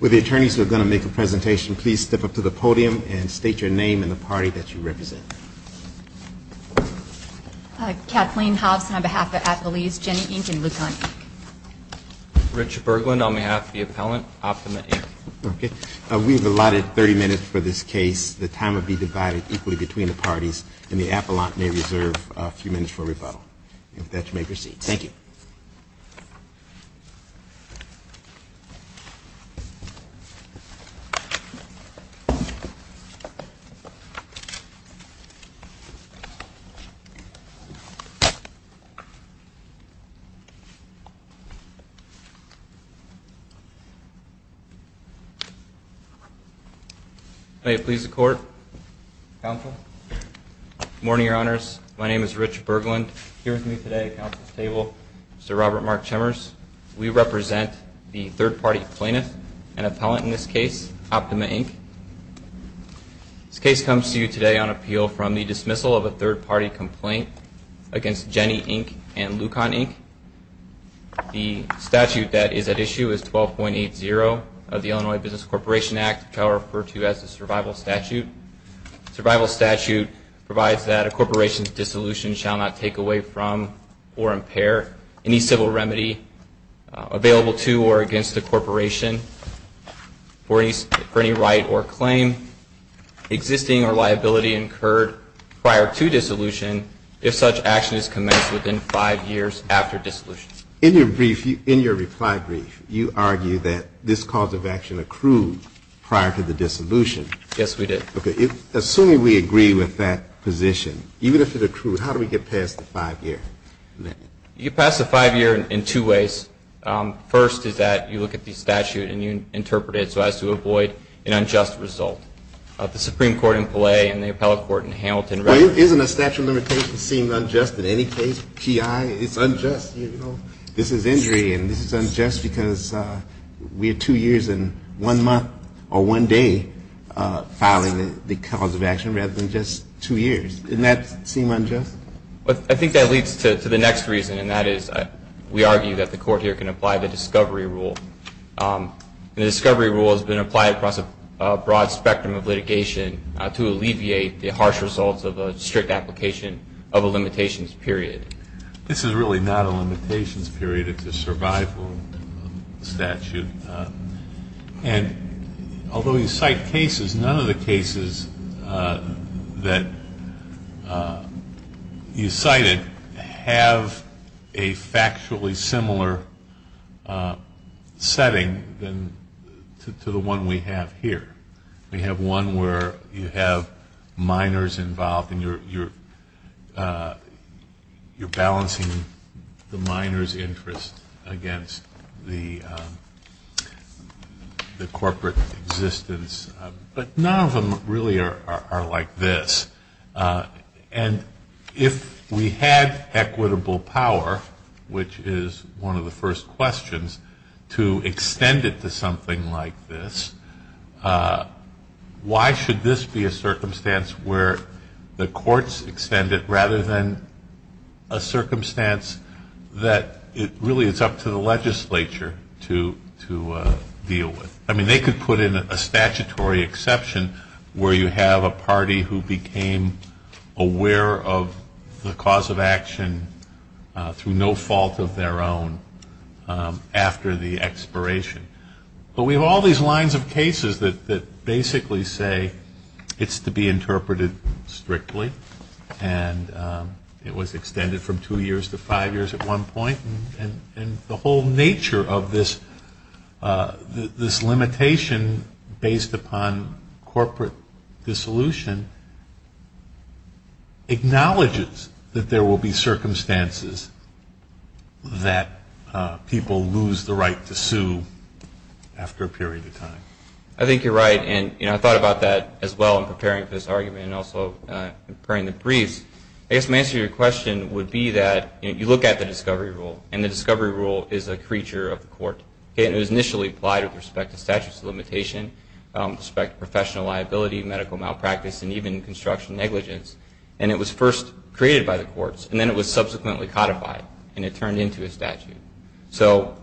With the attorneys who are going to make a presentation, please step up to the podium and state your name and the party that you represent. Kathleen Hobson on behalf of Appalese, Jenny, Inc. and Lucan, Inc. Richard Berglund on behalf of the appellant, Optima, Inc. We have allotted 30 minutes for this case. The time will be divided equally between the parties, and the appellant may reserve a few minutes for rebuttal. If that you may proceed. Thank you. Please be seated. May it please the Court, Counsel. Good morning, Your Honors. My name is Richard Berglund. Here with me today at counsel's table is Mr. Robert Mark Chemers. We represent the third-party plaintiff and appellant in this case, Optima, Inc. This case comes to you today on appeal from the dismissal of a third-party complaint against Jenny, Inc. and Lucan, Inc. The statute that is at issue is 12.80 of the Illinois Business Corporation Act, which I will refer to as the Survival Statute. Survival Statute provides that a corporation's dissolution shall not take away from or impair any civil remedy available to or against a corporation for any right or claim existing or liability incurred prior to dissolution if such action is commenced within five years after dissolution. In your reply brief, you argue that this cause of action accrued prior to the dissolution. Yes, we did. Okay. Assuming we agree with that position, even if it accrued, how do we get past the five-year limit? You get past the five-year in two ways. First is that you look at the statute and you interpret it so as to avoid an unjust result. The Supreme Court in Palais and the appellate court in Hamilton. Well, isn't a statute of limitations seen unjust in any case, P.I.? It's unjust. This is injury and this is unjust because we are two years and one month or one day filing the cause of action rather than just two years. Doesn't that seem unjust? I think that leads to the next reason, and that is we argue that the court here can apply the discovery rule. The discovery rule has been applied across a broad spectrum of litigation to alleviate the harsh results of a strict application of a limitations period. This is really not a limitations period. It's a survival statute. And although you cite cases, none of the cases that you cited have a factually similar setting to the one we have here. We have one where you have minors involved and you're balancing the minor's interest against the corporate existence, but none of them really are like this. And if we had equitable power, which is one of the first questions, to extend it to something like this, why should this be a circumstance where the courts extend it rather than a circumstance that really it's up to the legislature to deal with? I mean, they could put in a statutory exception where you have a party who became aware of the cause of action through no fault of their own after the expiration. But we have all these lines of cases that basically say it's to be interpreted strictly. And it was extended from two years to five years at one point. And the whole nature of this limitation based upon corporate dissolution acknowledges that there will be circumstances that people lose the right to sue. I think you're right, and I thought about that as well in preparing for this argument and also preparing the briefs. I guess my answer to your question would be that you look at the discovery rule, and the discovery rule is a creature of the court. It was initially applied with respect to statutes of limitation, respect to professional liability, medical malpractice, and even construction negligence. And it was first created by the courts, and then it was subsequently codified, and it turned into a statute. So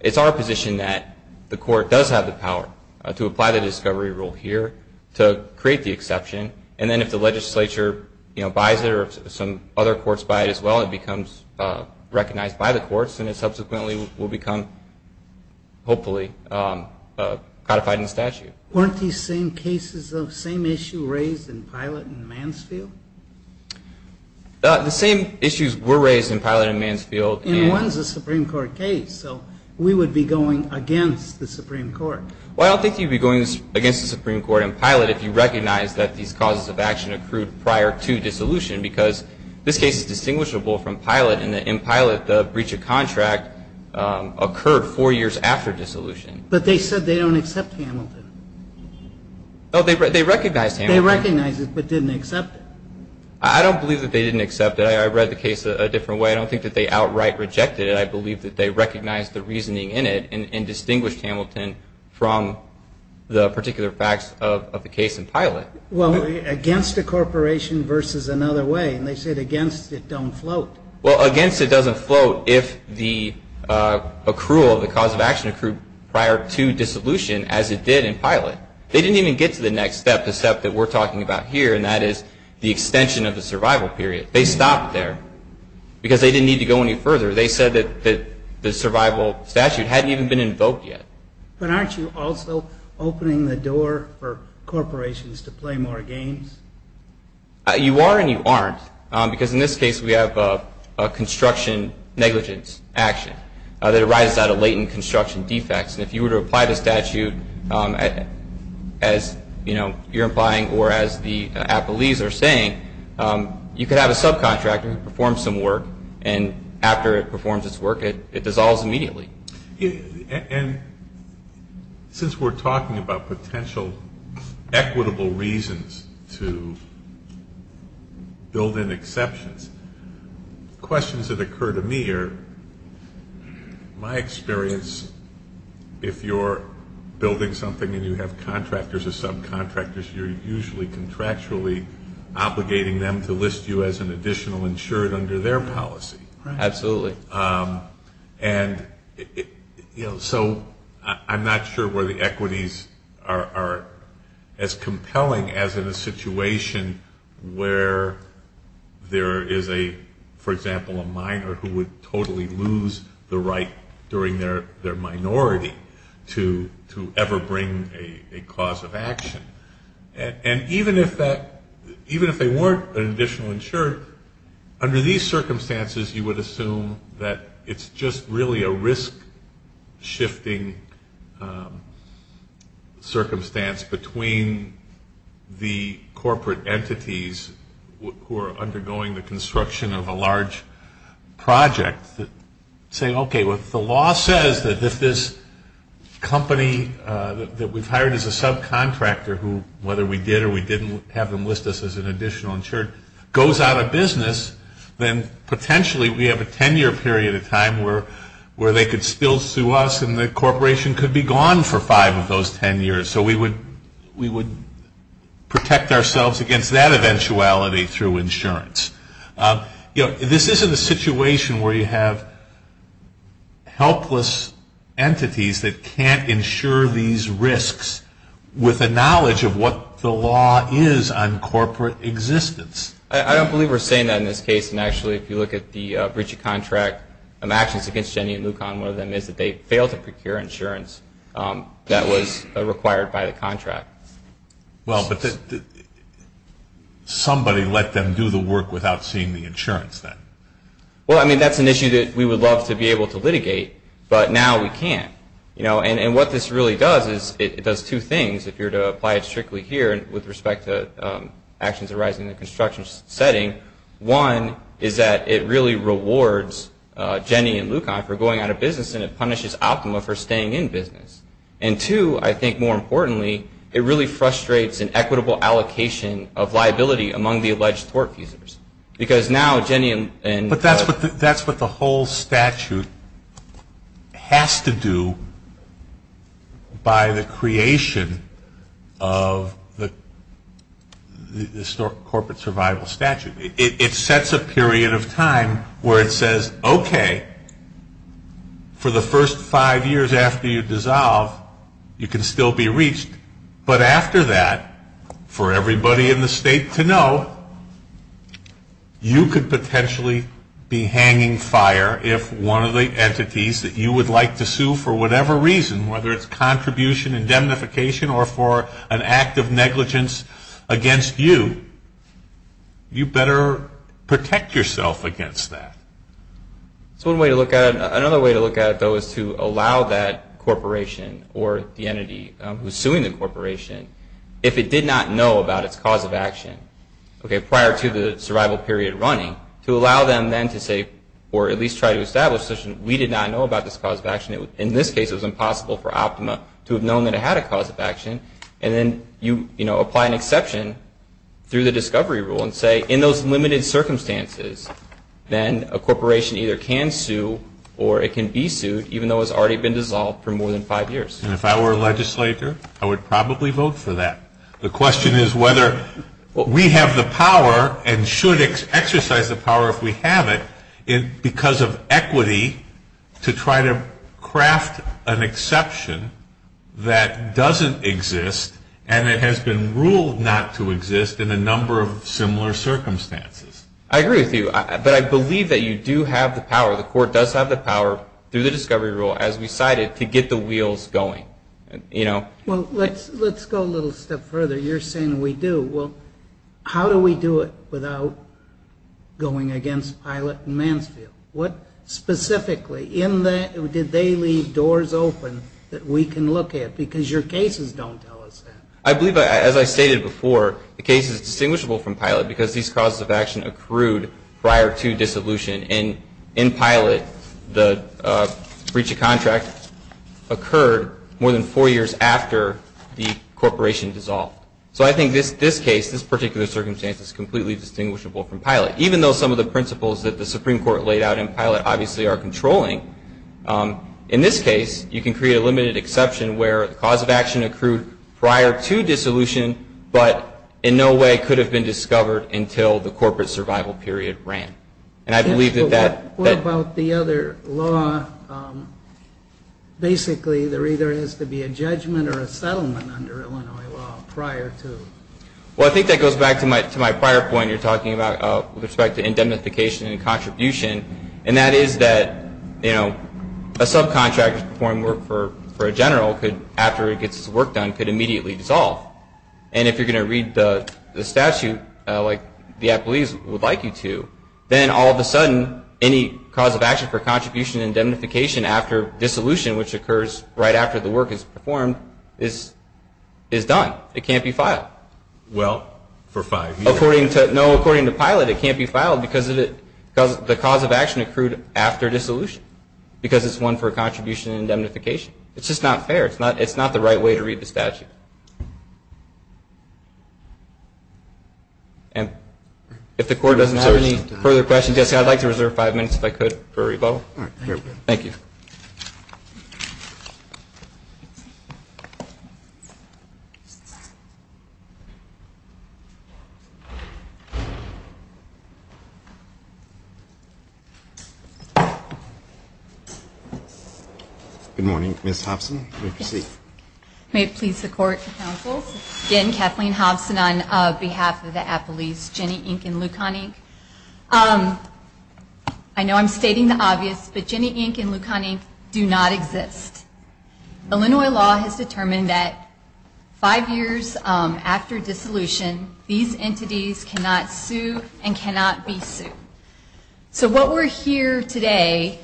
it's our position that the court does have the power to apply the discovery rule here to create the exception. And then if the legislature buys it or some other courts buy it as well, it becomes recognized by the courts. And it subsequently will become, hopefully, codified in the statute. Weren't these same cases of same issue raised in Pilate and Mansfield? The same issues were raised in Pilate and Mansfield. And one's a Supreme Court case, so we would be going against the Supreme Court. Well, I don't think you'd be going against the Supreme Court in Pilate if you recognized that these causes of action accrued prior to dissolution, because this case is distinguishable from Pilate in that in Pilate the breach of contract occurred four years after dissolution. But they said they don't accept Hamilton. Oh, they recognized Hamilton. They recognized it but didn't accept it. I don't believe that they didn't accept it. I read the case a different way. I don't think that they outright rejected it. I believe that they recognized the reasoning in it and distinguished Hamilton from the particular facts of the case in Pilate. Well, against a corporation versus another way, and they said against it don't float. Well, against it doesn't float if the accrual of the cause of action accrued prior to dissolution as it did in Pilate. They didn't even get to the next step, the step that we're talking about here, and that is the extension of the survival period. They stopped there because they didn't need to go any further. They said that the survival statute hadn't even been invoked yet. But aren't you also opening the door for corporations to play more games? You are and you aren't, because in this case we have a construction negligence action that arises out of latent construction defects. And if you were to apply the statute as, you know, you're implying or as the appellees are saying, you could have a subcontractor perform some work, and after it performs its work, it dissolves immediately. And since we're talking about potential equitable reasons to build in exceptions, questions that occur to me are, my experience, if you're building something and you have contractors or subcontractors, you're usually contractually obligating them to list you as an additional insured under their policy. Absolutely. And, you know, so I'm not sure where the equities are as compelling as in a situation where there is a, for example, a minor who would totally lose the right during their minority to ever bring a cause of action. And even if they weren't an additional insured, under these circumstances, you would assume that it's just really a risk-shifting circumstance between the corporate entities who are undergoing the construction of a large project saying, okay, well, if the law says that if this company that we've hired as a subcontractor, whether we did or we didn't have them list us as an additional insured, goes out of business, then potentially we have a 10-year period of time where they could still sue us and the corporation could be gone for five of those 10 years. So we would protect ourselves against that eventuality through insurance. You know, this isn't a situation where you have helpless entities that can't insure these risks with the knowledge of what the law is on corporate existence. I don't believe we're saying that in this case. And actually, if you look at the breach of contract actions against Jenny and Lucon, one of them is that they failed to procure insurance that was required by the contract. Well, but somebody let them do the work without seeing the insurance then. Well, I mean, that's an issue that we would love to be able to litigate, but now we can't. And what this really does is it does two things. If you were to apply it strictly here with respect to actions arising in a construction setting, one is that it really rewards Jenny and Lucon for going out of business and it punishes Optima for staying in business. And two, I think more importantly, it really frustrates an equitable allocation of liability among the alleged tort users. Because now Jenny and Lucon... of the corporate survival statute. It sets a period of time where it says, okay, for the first five years after you dissolve, you can still be reached. But after that, for everybody in the state to know, you could potentially be hanging fire if one of the entities that you would like to sue for whatever reason, whether it's contribution indemnification or for an act of negligence against you, you better protect yourself against that. Another way to look at it, though, is to allow that corporation or the entity who's suing the corporation, if it did not know about its cause of action prior to the survival period running, to allow them then to say, or at least try to establish, we did not know about this cause of action. In this case, it was impossible for Optima to have known that it had a cause of action. And then you apply an exception through the discovery rule and say, in those limited circumstances, then a corporation either can sue or it can be sued, even though it's already been dissolved for more than five years. And if I were a legislator, I would probably vote for that. The question is whether we have the power and should exercise the power if we have it, because of equity, to try to craft an exception that doesn't exist and it has been ruled not to exist in a number of similar circumstances. I agree with you. But I believe that you do have the power, the court does have the power, through the discovery rule, as we cited, to get the wheels going. Well, let's go a little step further. You're saying we do. Well, how do we do it without going against PILOT and Mansfield? Specifically, did they leave doors open that we can look at? Because your cases don't tell us that. I believe, as I stated before, the case is distinguishable from PILOT because these causes of action accrued prior to dissolution. In PILOT, the breach of contract occurred more than four years after the corporation dissolved. So I think this case, this particular circumstance, is completely distinguishable from PILOT, even though some of the principles that the Supreme Court laid out in PILOT obviously are controlling. In this case, you can create a limited exception where the cause of action accrued prior to dissolution but in no way could have been discovered until the corporate survival period ran. What about the other law? Basically, there either has to be a judgment or a settlement under Illinois law prior to. Well, I think that goes back to my prior point you're talking about with respect to indemnification and contribution, and that is that a subcontractor performing work for a general after it gets its work done could immediately dissolve. And if you're going to read the statute like the athletes would like you to, then all of a sudden any cause of action for contribution and indemnification after dissolution, which occurs right after the work is performed, is done. It can't be filed. Well, for five years. No, according to PILOT, it can't be filed because the cause of action accrued after dissolution because it's one for contribution and indemnification. It's just not fair. It's not the right way to read the statute. And if the Court doesn't have any further questions, I'd like to reserve five minutes if I could for a rebuttal. Thank you. Good morning. Ms. Hobson, you may proceed. May it please the Court and Council. Again, Kathleen Hobson on behalf of the athletes, Jenny Inc. and Lucan Inc. I know I'm stating the obvious, but Jenny Inc. and Lucan Inc. do not exist. Illinois law has determined that five years after dissolution, these entities cannot sue and cannot be sued. So what we're here today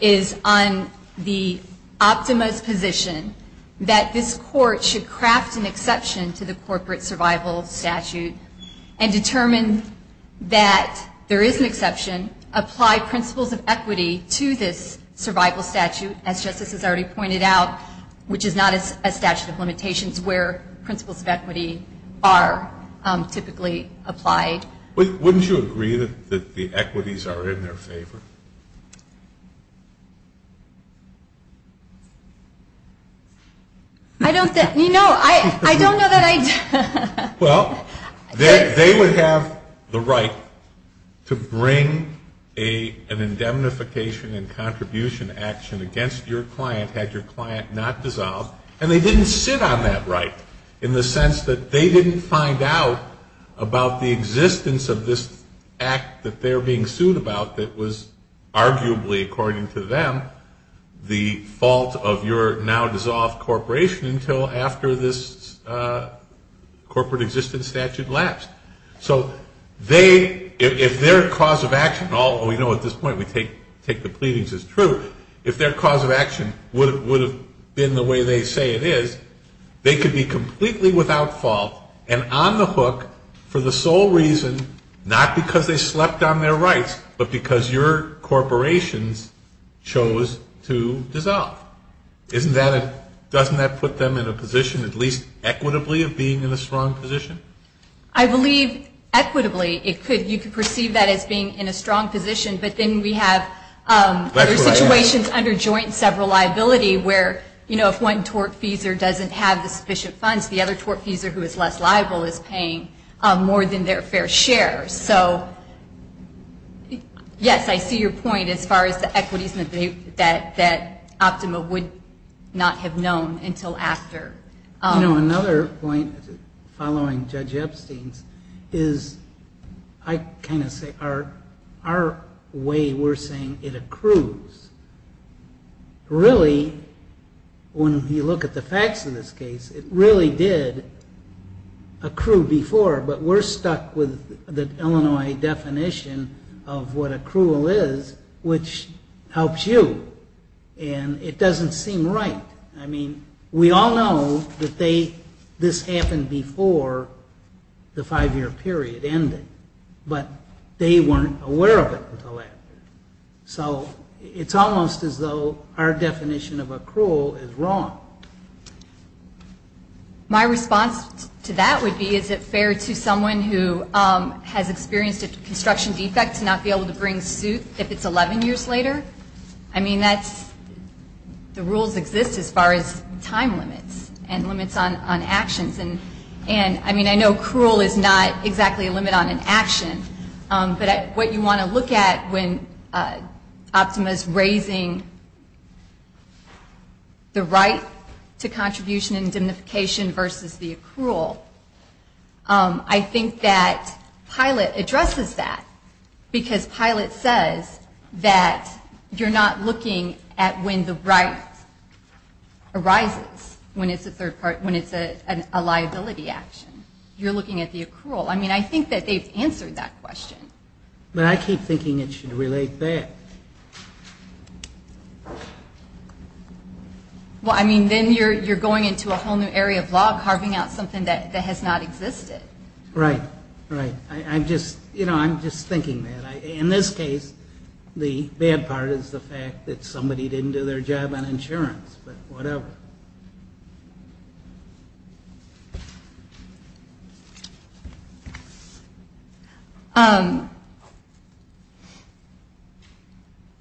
is on the optimist position that this Court should craft an exception to the corporate survival statute and determine that there is an exception, apply principles of equity to this survival statute, as Justice has already pointed out, which is not a statute of limitations where principles of equity are typically applied. Wouldn't you agree that the equities are in their favor? I don't know that I do. Well, they would have the right to bring an indemnification and contribution action against your client had your client not dissolved, and they didn't sit on that right in the sense that they didn't find out about the existence of this act that they're being sued about that was arguably, according to them, the fault of your now-dissolved corporation until after this corporate existence statute lapsed. So they, if their cause of action, although we know at this point we take the pleadings as true, if their cause of action would have been the way they say it is, they could be completely without fault and on the hook for the sole reason, not because they slept on their rights, but because your corporations chose to dissolve. Doesn't that put them in a position, at least equitably, of being in a strong position? I believe equitably. You could perceive that as being in a strong position, but then we have other situations under joint sever liability where, you know, if one tortfeasor doesn't have the sufficient funds, the other tortfeasor who is less liable is paying more than their fair share. So, yes, I see your point as far as the equities that Optima would not have known until after. You know, another point following Judge Epstein's is I kind of say our way we're saying it accrues. Really, when you look at the facts of this case, it really did accrue before, but we're stuck with the Illinois definition of what accrual is, which helps you, and it doesn't seem right. I mean, we all know that this happened before the five-year period ended, but they weren't aware of it until after. So it's almost as though our definition of accrual is wrong. My response to that would be is it fair to someone who has experienced a construction defect to not be able to bring suit if it's 11 years later? I mean, the rules exist as far as time limits and limits on actions. And, I mean, I know accrual is not exactly a limit on an action, but what you want to look at when Optima is raising the right to contribution and dignification versus the accrual, I think that Pilot addresses that, because Pilot says that you're not looking at when the right arises, when it's a liability action. You're looking at the accrual. I mean, I think that they've answered that question. But I keep thinking it should relate back. Well, I mean, then you're going into a whole new area of law, carving out something that has not existed. Right, right. I'm just thinking that. In this case, the bad part is the fact that somebody didn't do their job on insurance, but whatever.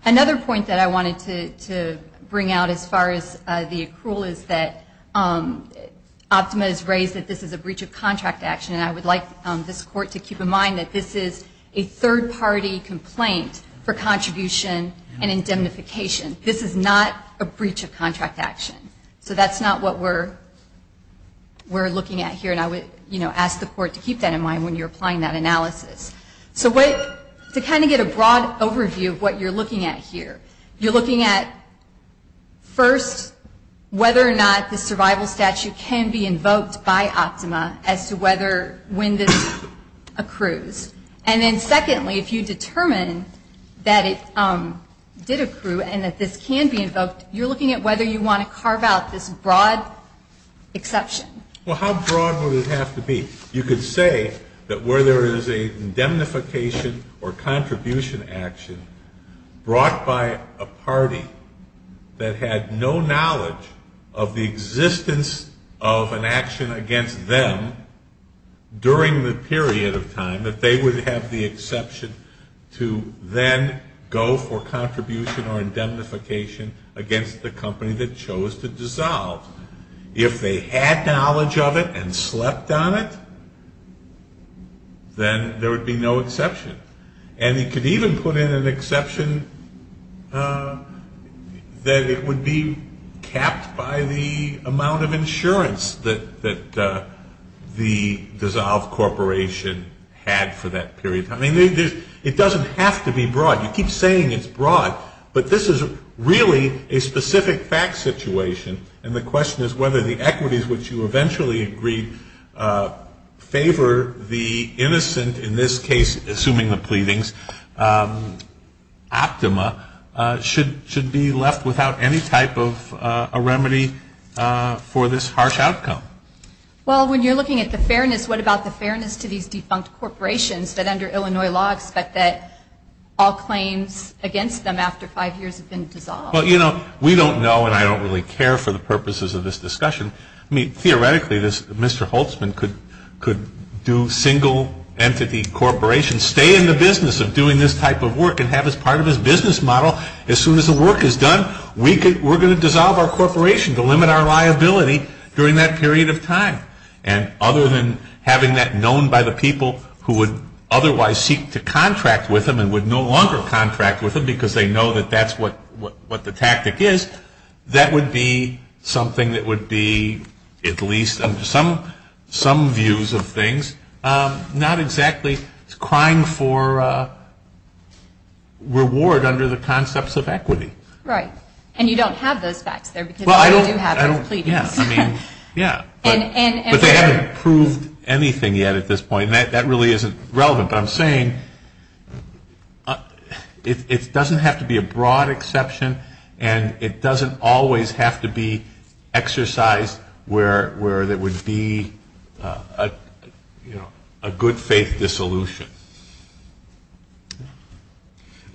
Another point that I wanted to bring out as far as the accrual is that Optima has raised that this is a breach of contract action, and I would like this Court to keep in mind that this is a third-party complaint for contribution and indemnification. This is not a breach of contract action. So that's not what we're looking at here, and I would ask the Court to keep that in mind when you're applying that analysis. So to kind of get a broad overview of what you're looking at here, you're looking at, first, whether or not the survival statute can be invoked by Optima as to whether when this accrues. And then, secondly, if you determine that it did accrue and that this can be invoked, you're looking at whether you want to carve out this broad exception. Well, how broad would it have to be? You could say that where there is a indemnification or contribution action brought by a party that had no knowledge of the existence of an action against them during the period of time, that they would have the exception to then go for contribution or indemnification against the company that chose to dissolve. If they had knowledge of it and slept on it, then there would be no exception. And you could even put in an exception that it would be capped by the amount of insurance that the dissolved corporation had for that period. I mean, it doesn't have to be broad. You keep saying it's broad, but this is really a specific fact situation, and the question is whether the equities which you eventually agreed favor the innocent, in this case assuming the pleadings, optima, should be left without any type of a remedy for this harsh outcome. Well, when you're looking at the fairness, what about the fairness to these defunct corporations that under Illinois law expect that all claims against them after five years have been dissolved? Well, you know, we don't know, and I don't really care for the purposes of this discussion. I mean, theoretically, Mr. Holtzman could do single-entity corporations, stay in the business of doing this type of work and have it as part of his business model. As soon as the work is done, we're going to dissolve our corporation to limit our liability during that period of time. And other than having that known by the people who would otherwise seek to contract with him and would no longer contract with him because they know that that's what the tactic is, that would be something that would be at least some views of things, not exactly crying for reward under the concepts of equity. Right. And you don't have those facts there because you do have those pleadings. Yeah, I mean, yeah, but they haven't proved anything yet at this point, and that really isn't relevant. But I'm saying it doesn't have to be a broad exception, and it doesn't always have to be exercised where there would be, you know, a good-faith dissolution.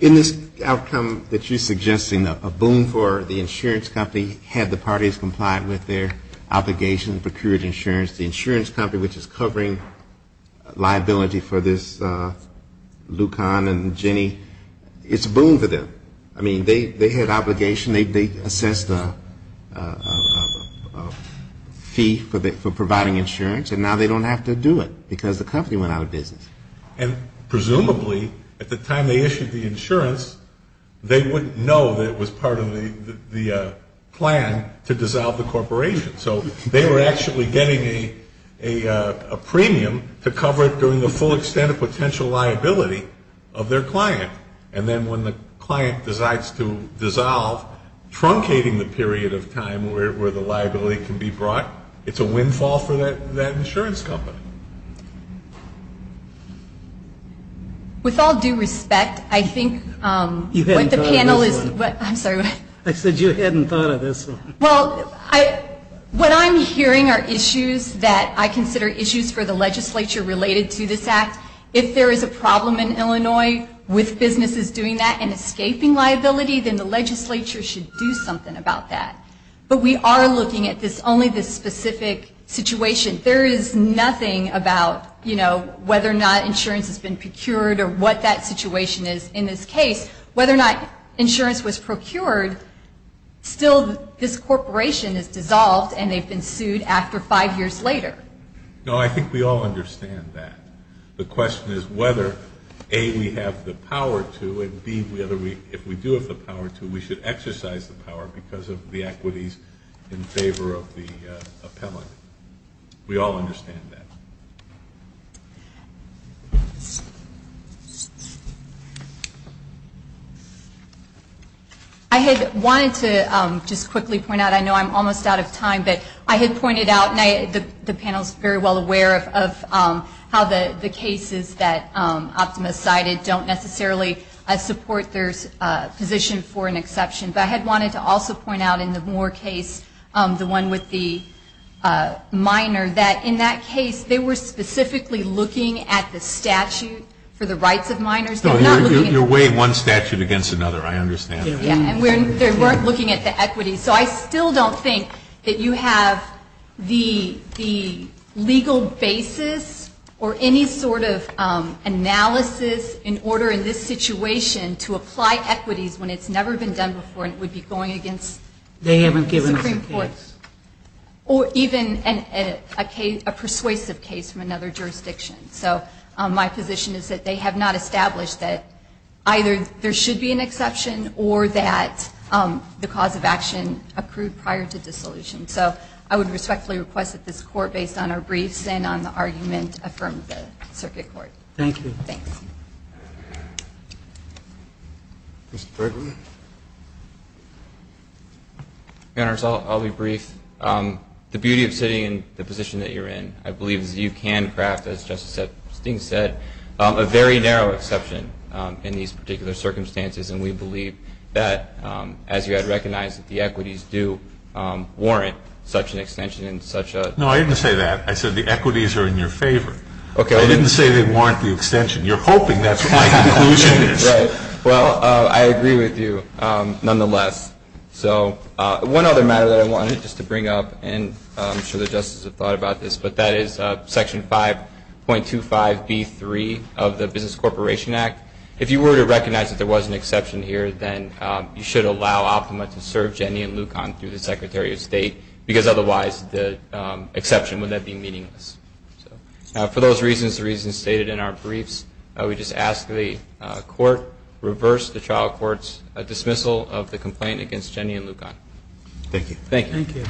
In this outcome that you're suggesting, a boon for the insurance company, had the parties complied with their obligations, procured insurance, the insurance company, which is covering liability for this Lucan and Jenny, it's a boon for them. I mean, they had obligation, they assessed a fee for providing insurance, and now they don't have to do it because the company went out of business. And presumably at the time they issued the insurance, they wouldn't know that it was part of the plan to dissolve the corporation. So they were actually getting a premium to cover it during the full extent of potential liability of their client. And then when the client decides to dissolve, truncating the period of time where the liability can be brought, it's a windfall for that insurance company. With all due respect, I think what the panel is, I'm sorry. I said you hadn't thought of this. Well, what I'm hearing are issues that I consider issues for the legislature related to this act. If there is a problem in Illinois with businesses doing that and escaping liability, then the legislature should do something about that. But we are looking at this, only this specific situation. There is nothing about, you know, whether or not insurance has been procured or what that situation is in this case. Whether or not insurance was procured, still this corporation is dissolved and they've been sued after five years later. No, I think we all understand that. The question is whether, A, we have the power to, and, B, if we do have the power to, we should exercise the power because of the equities in favor of the appellant. We all understand that. I had wanted to just quickly point out, I know I'm almost out of time, but I had pointed out, and the panel is very well aware of how the cases that Optimus cited don't necessarily support their position for an exception. But I had wanted to also point out in the Moore case, the one with the minor, that in that case they were specifically looking at the statute for the rights of minors. No, you're weighing one statute against another. I understand that. Yeah, and they weren't looking at the equities. So I still don't think that you have the legal basis or any sort of analysis in order in this situation to apply equities when it's never been done before and it would be going against the Supreme Court. They haven't given us a case. Or even a persuasive case from another jurisdiction. So my position is that they have not established that either there should be an exception or that the cause of action accrued prior to dissolution. So I would respectfully request that this Court, based on our briefs and on the argument, affirm the circuit court. Thank you. Thanks. Mr. Brinkley. Your Honors, I'll be brief. The beauty of sitting in the position that you're in, I believe, is you can craft, as Justice Steng said, a very narrow exception in these particular circumstances. And we believe that, as you had recognized, that the equities do warrant such an extension and such a... No, I didn't say that. I said the equities are in your favor. Okay. I didn't say they warrant the extension. You're hoping that's what my conclusion is. Right. Well, I agree with you nonetheless. So one other matter that I wanted just to bring up, and I'm sure the Justices have thought about this, but that is Section 5.25B3 of the Business Corporation Act. If you were to recognize that there was an exception here, then you should allow Optima to serve Jenny and Lucon through the Secretary of State, because otherwise the exception would then be meaningless. For those reasons, the reasons stated in our briefs, I would just ask the Court, reverse the trial court's dismissal of the complaint against Jenny and Lucon. Thank you. Thank you.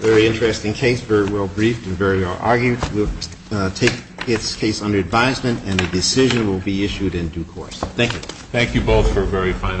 Very interesting case. Very well briefed and very well argued. We'll take its case under advisement, and a decision will be issued in due course. Thank you. Thank you both for a very fine argument.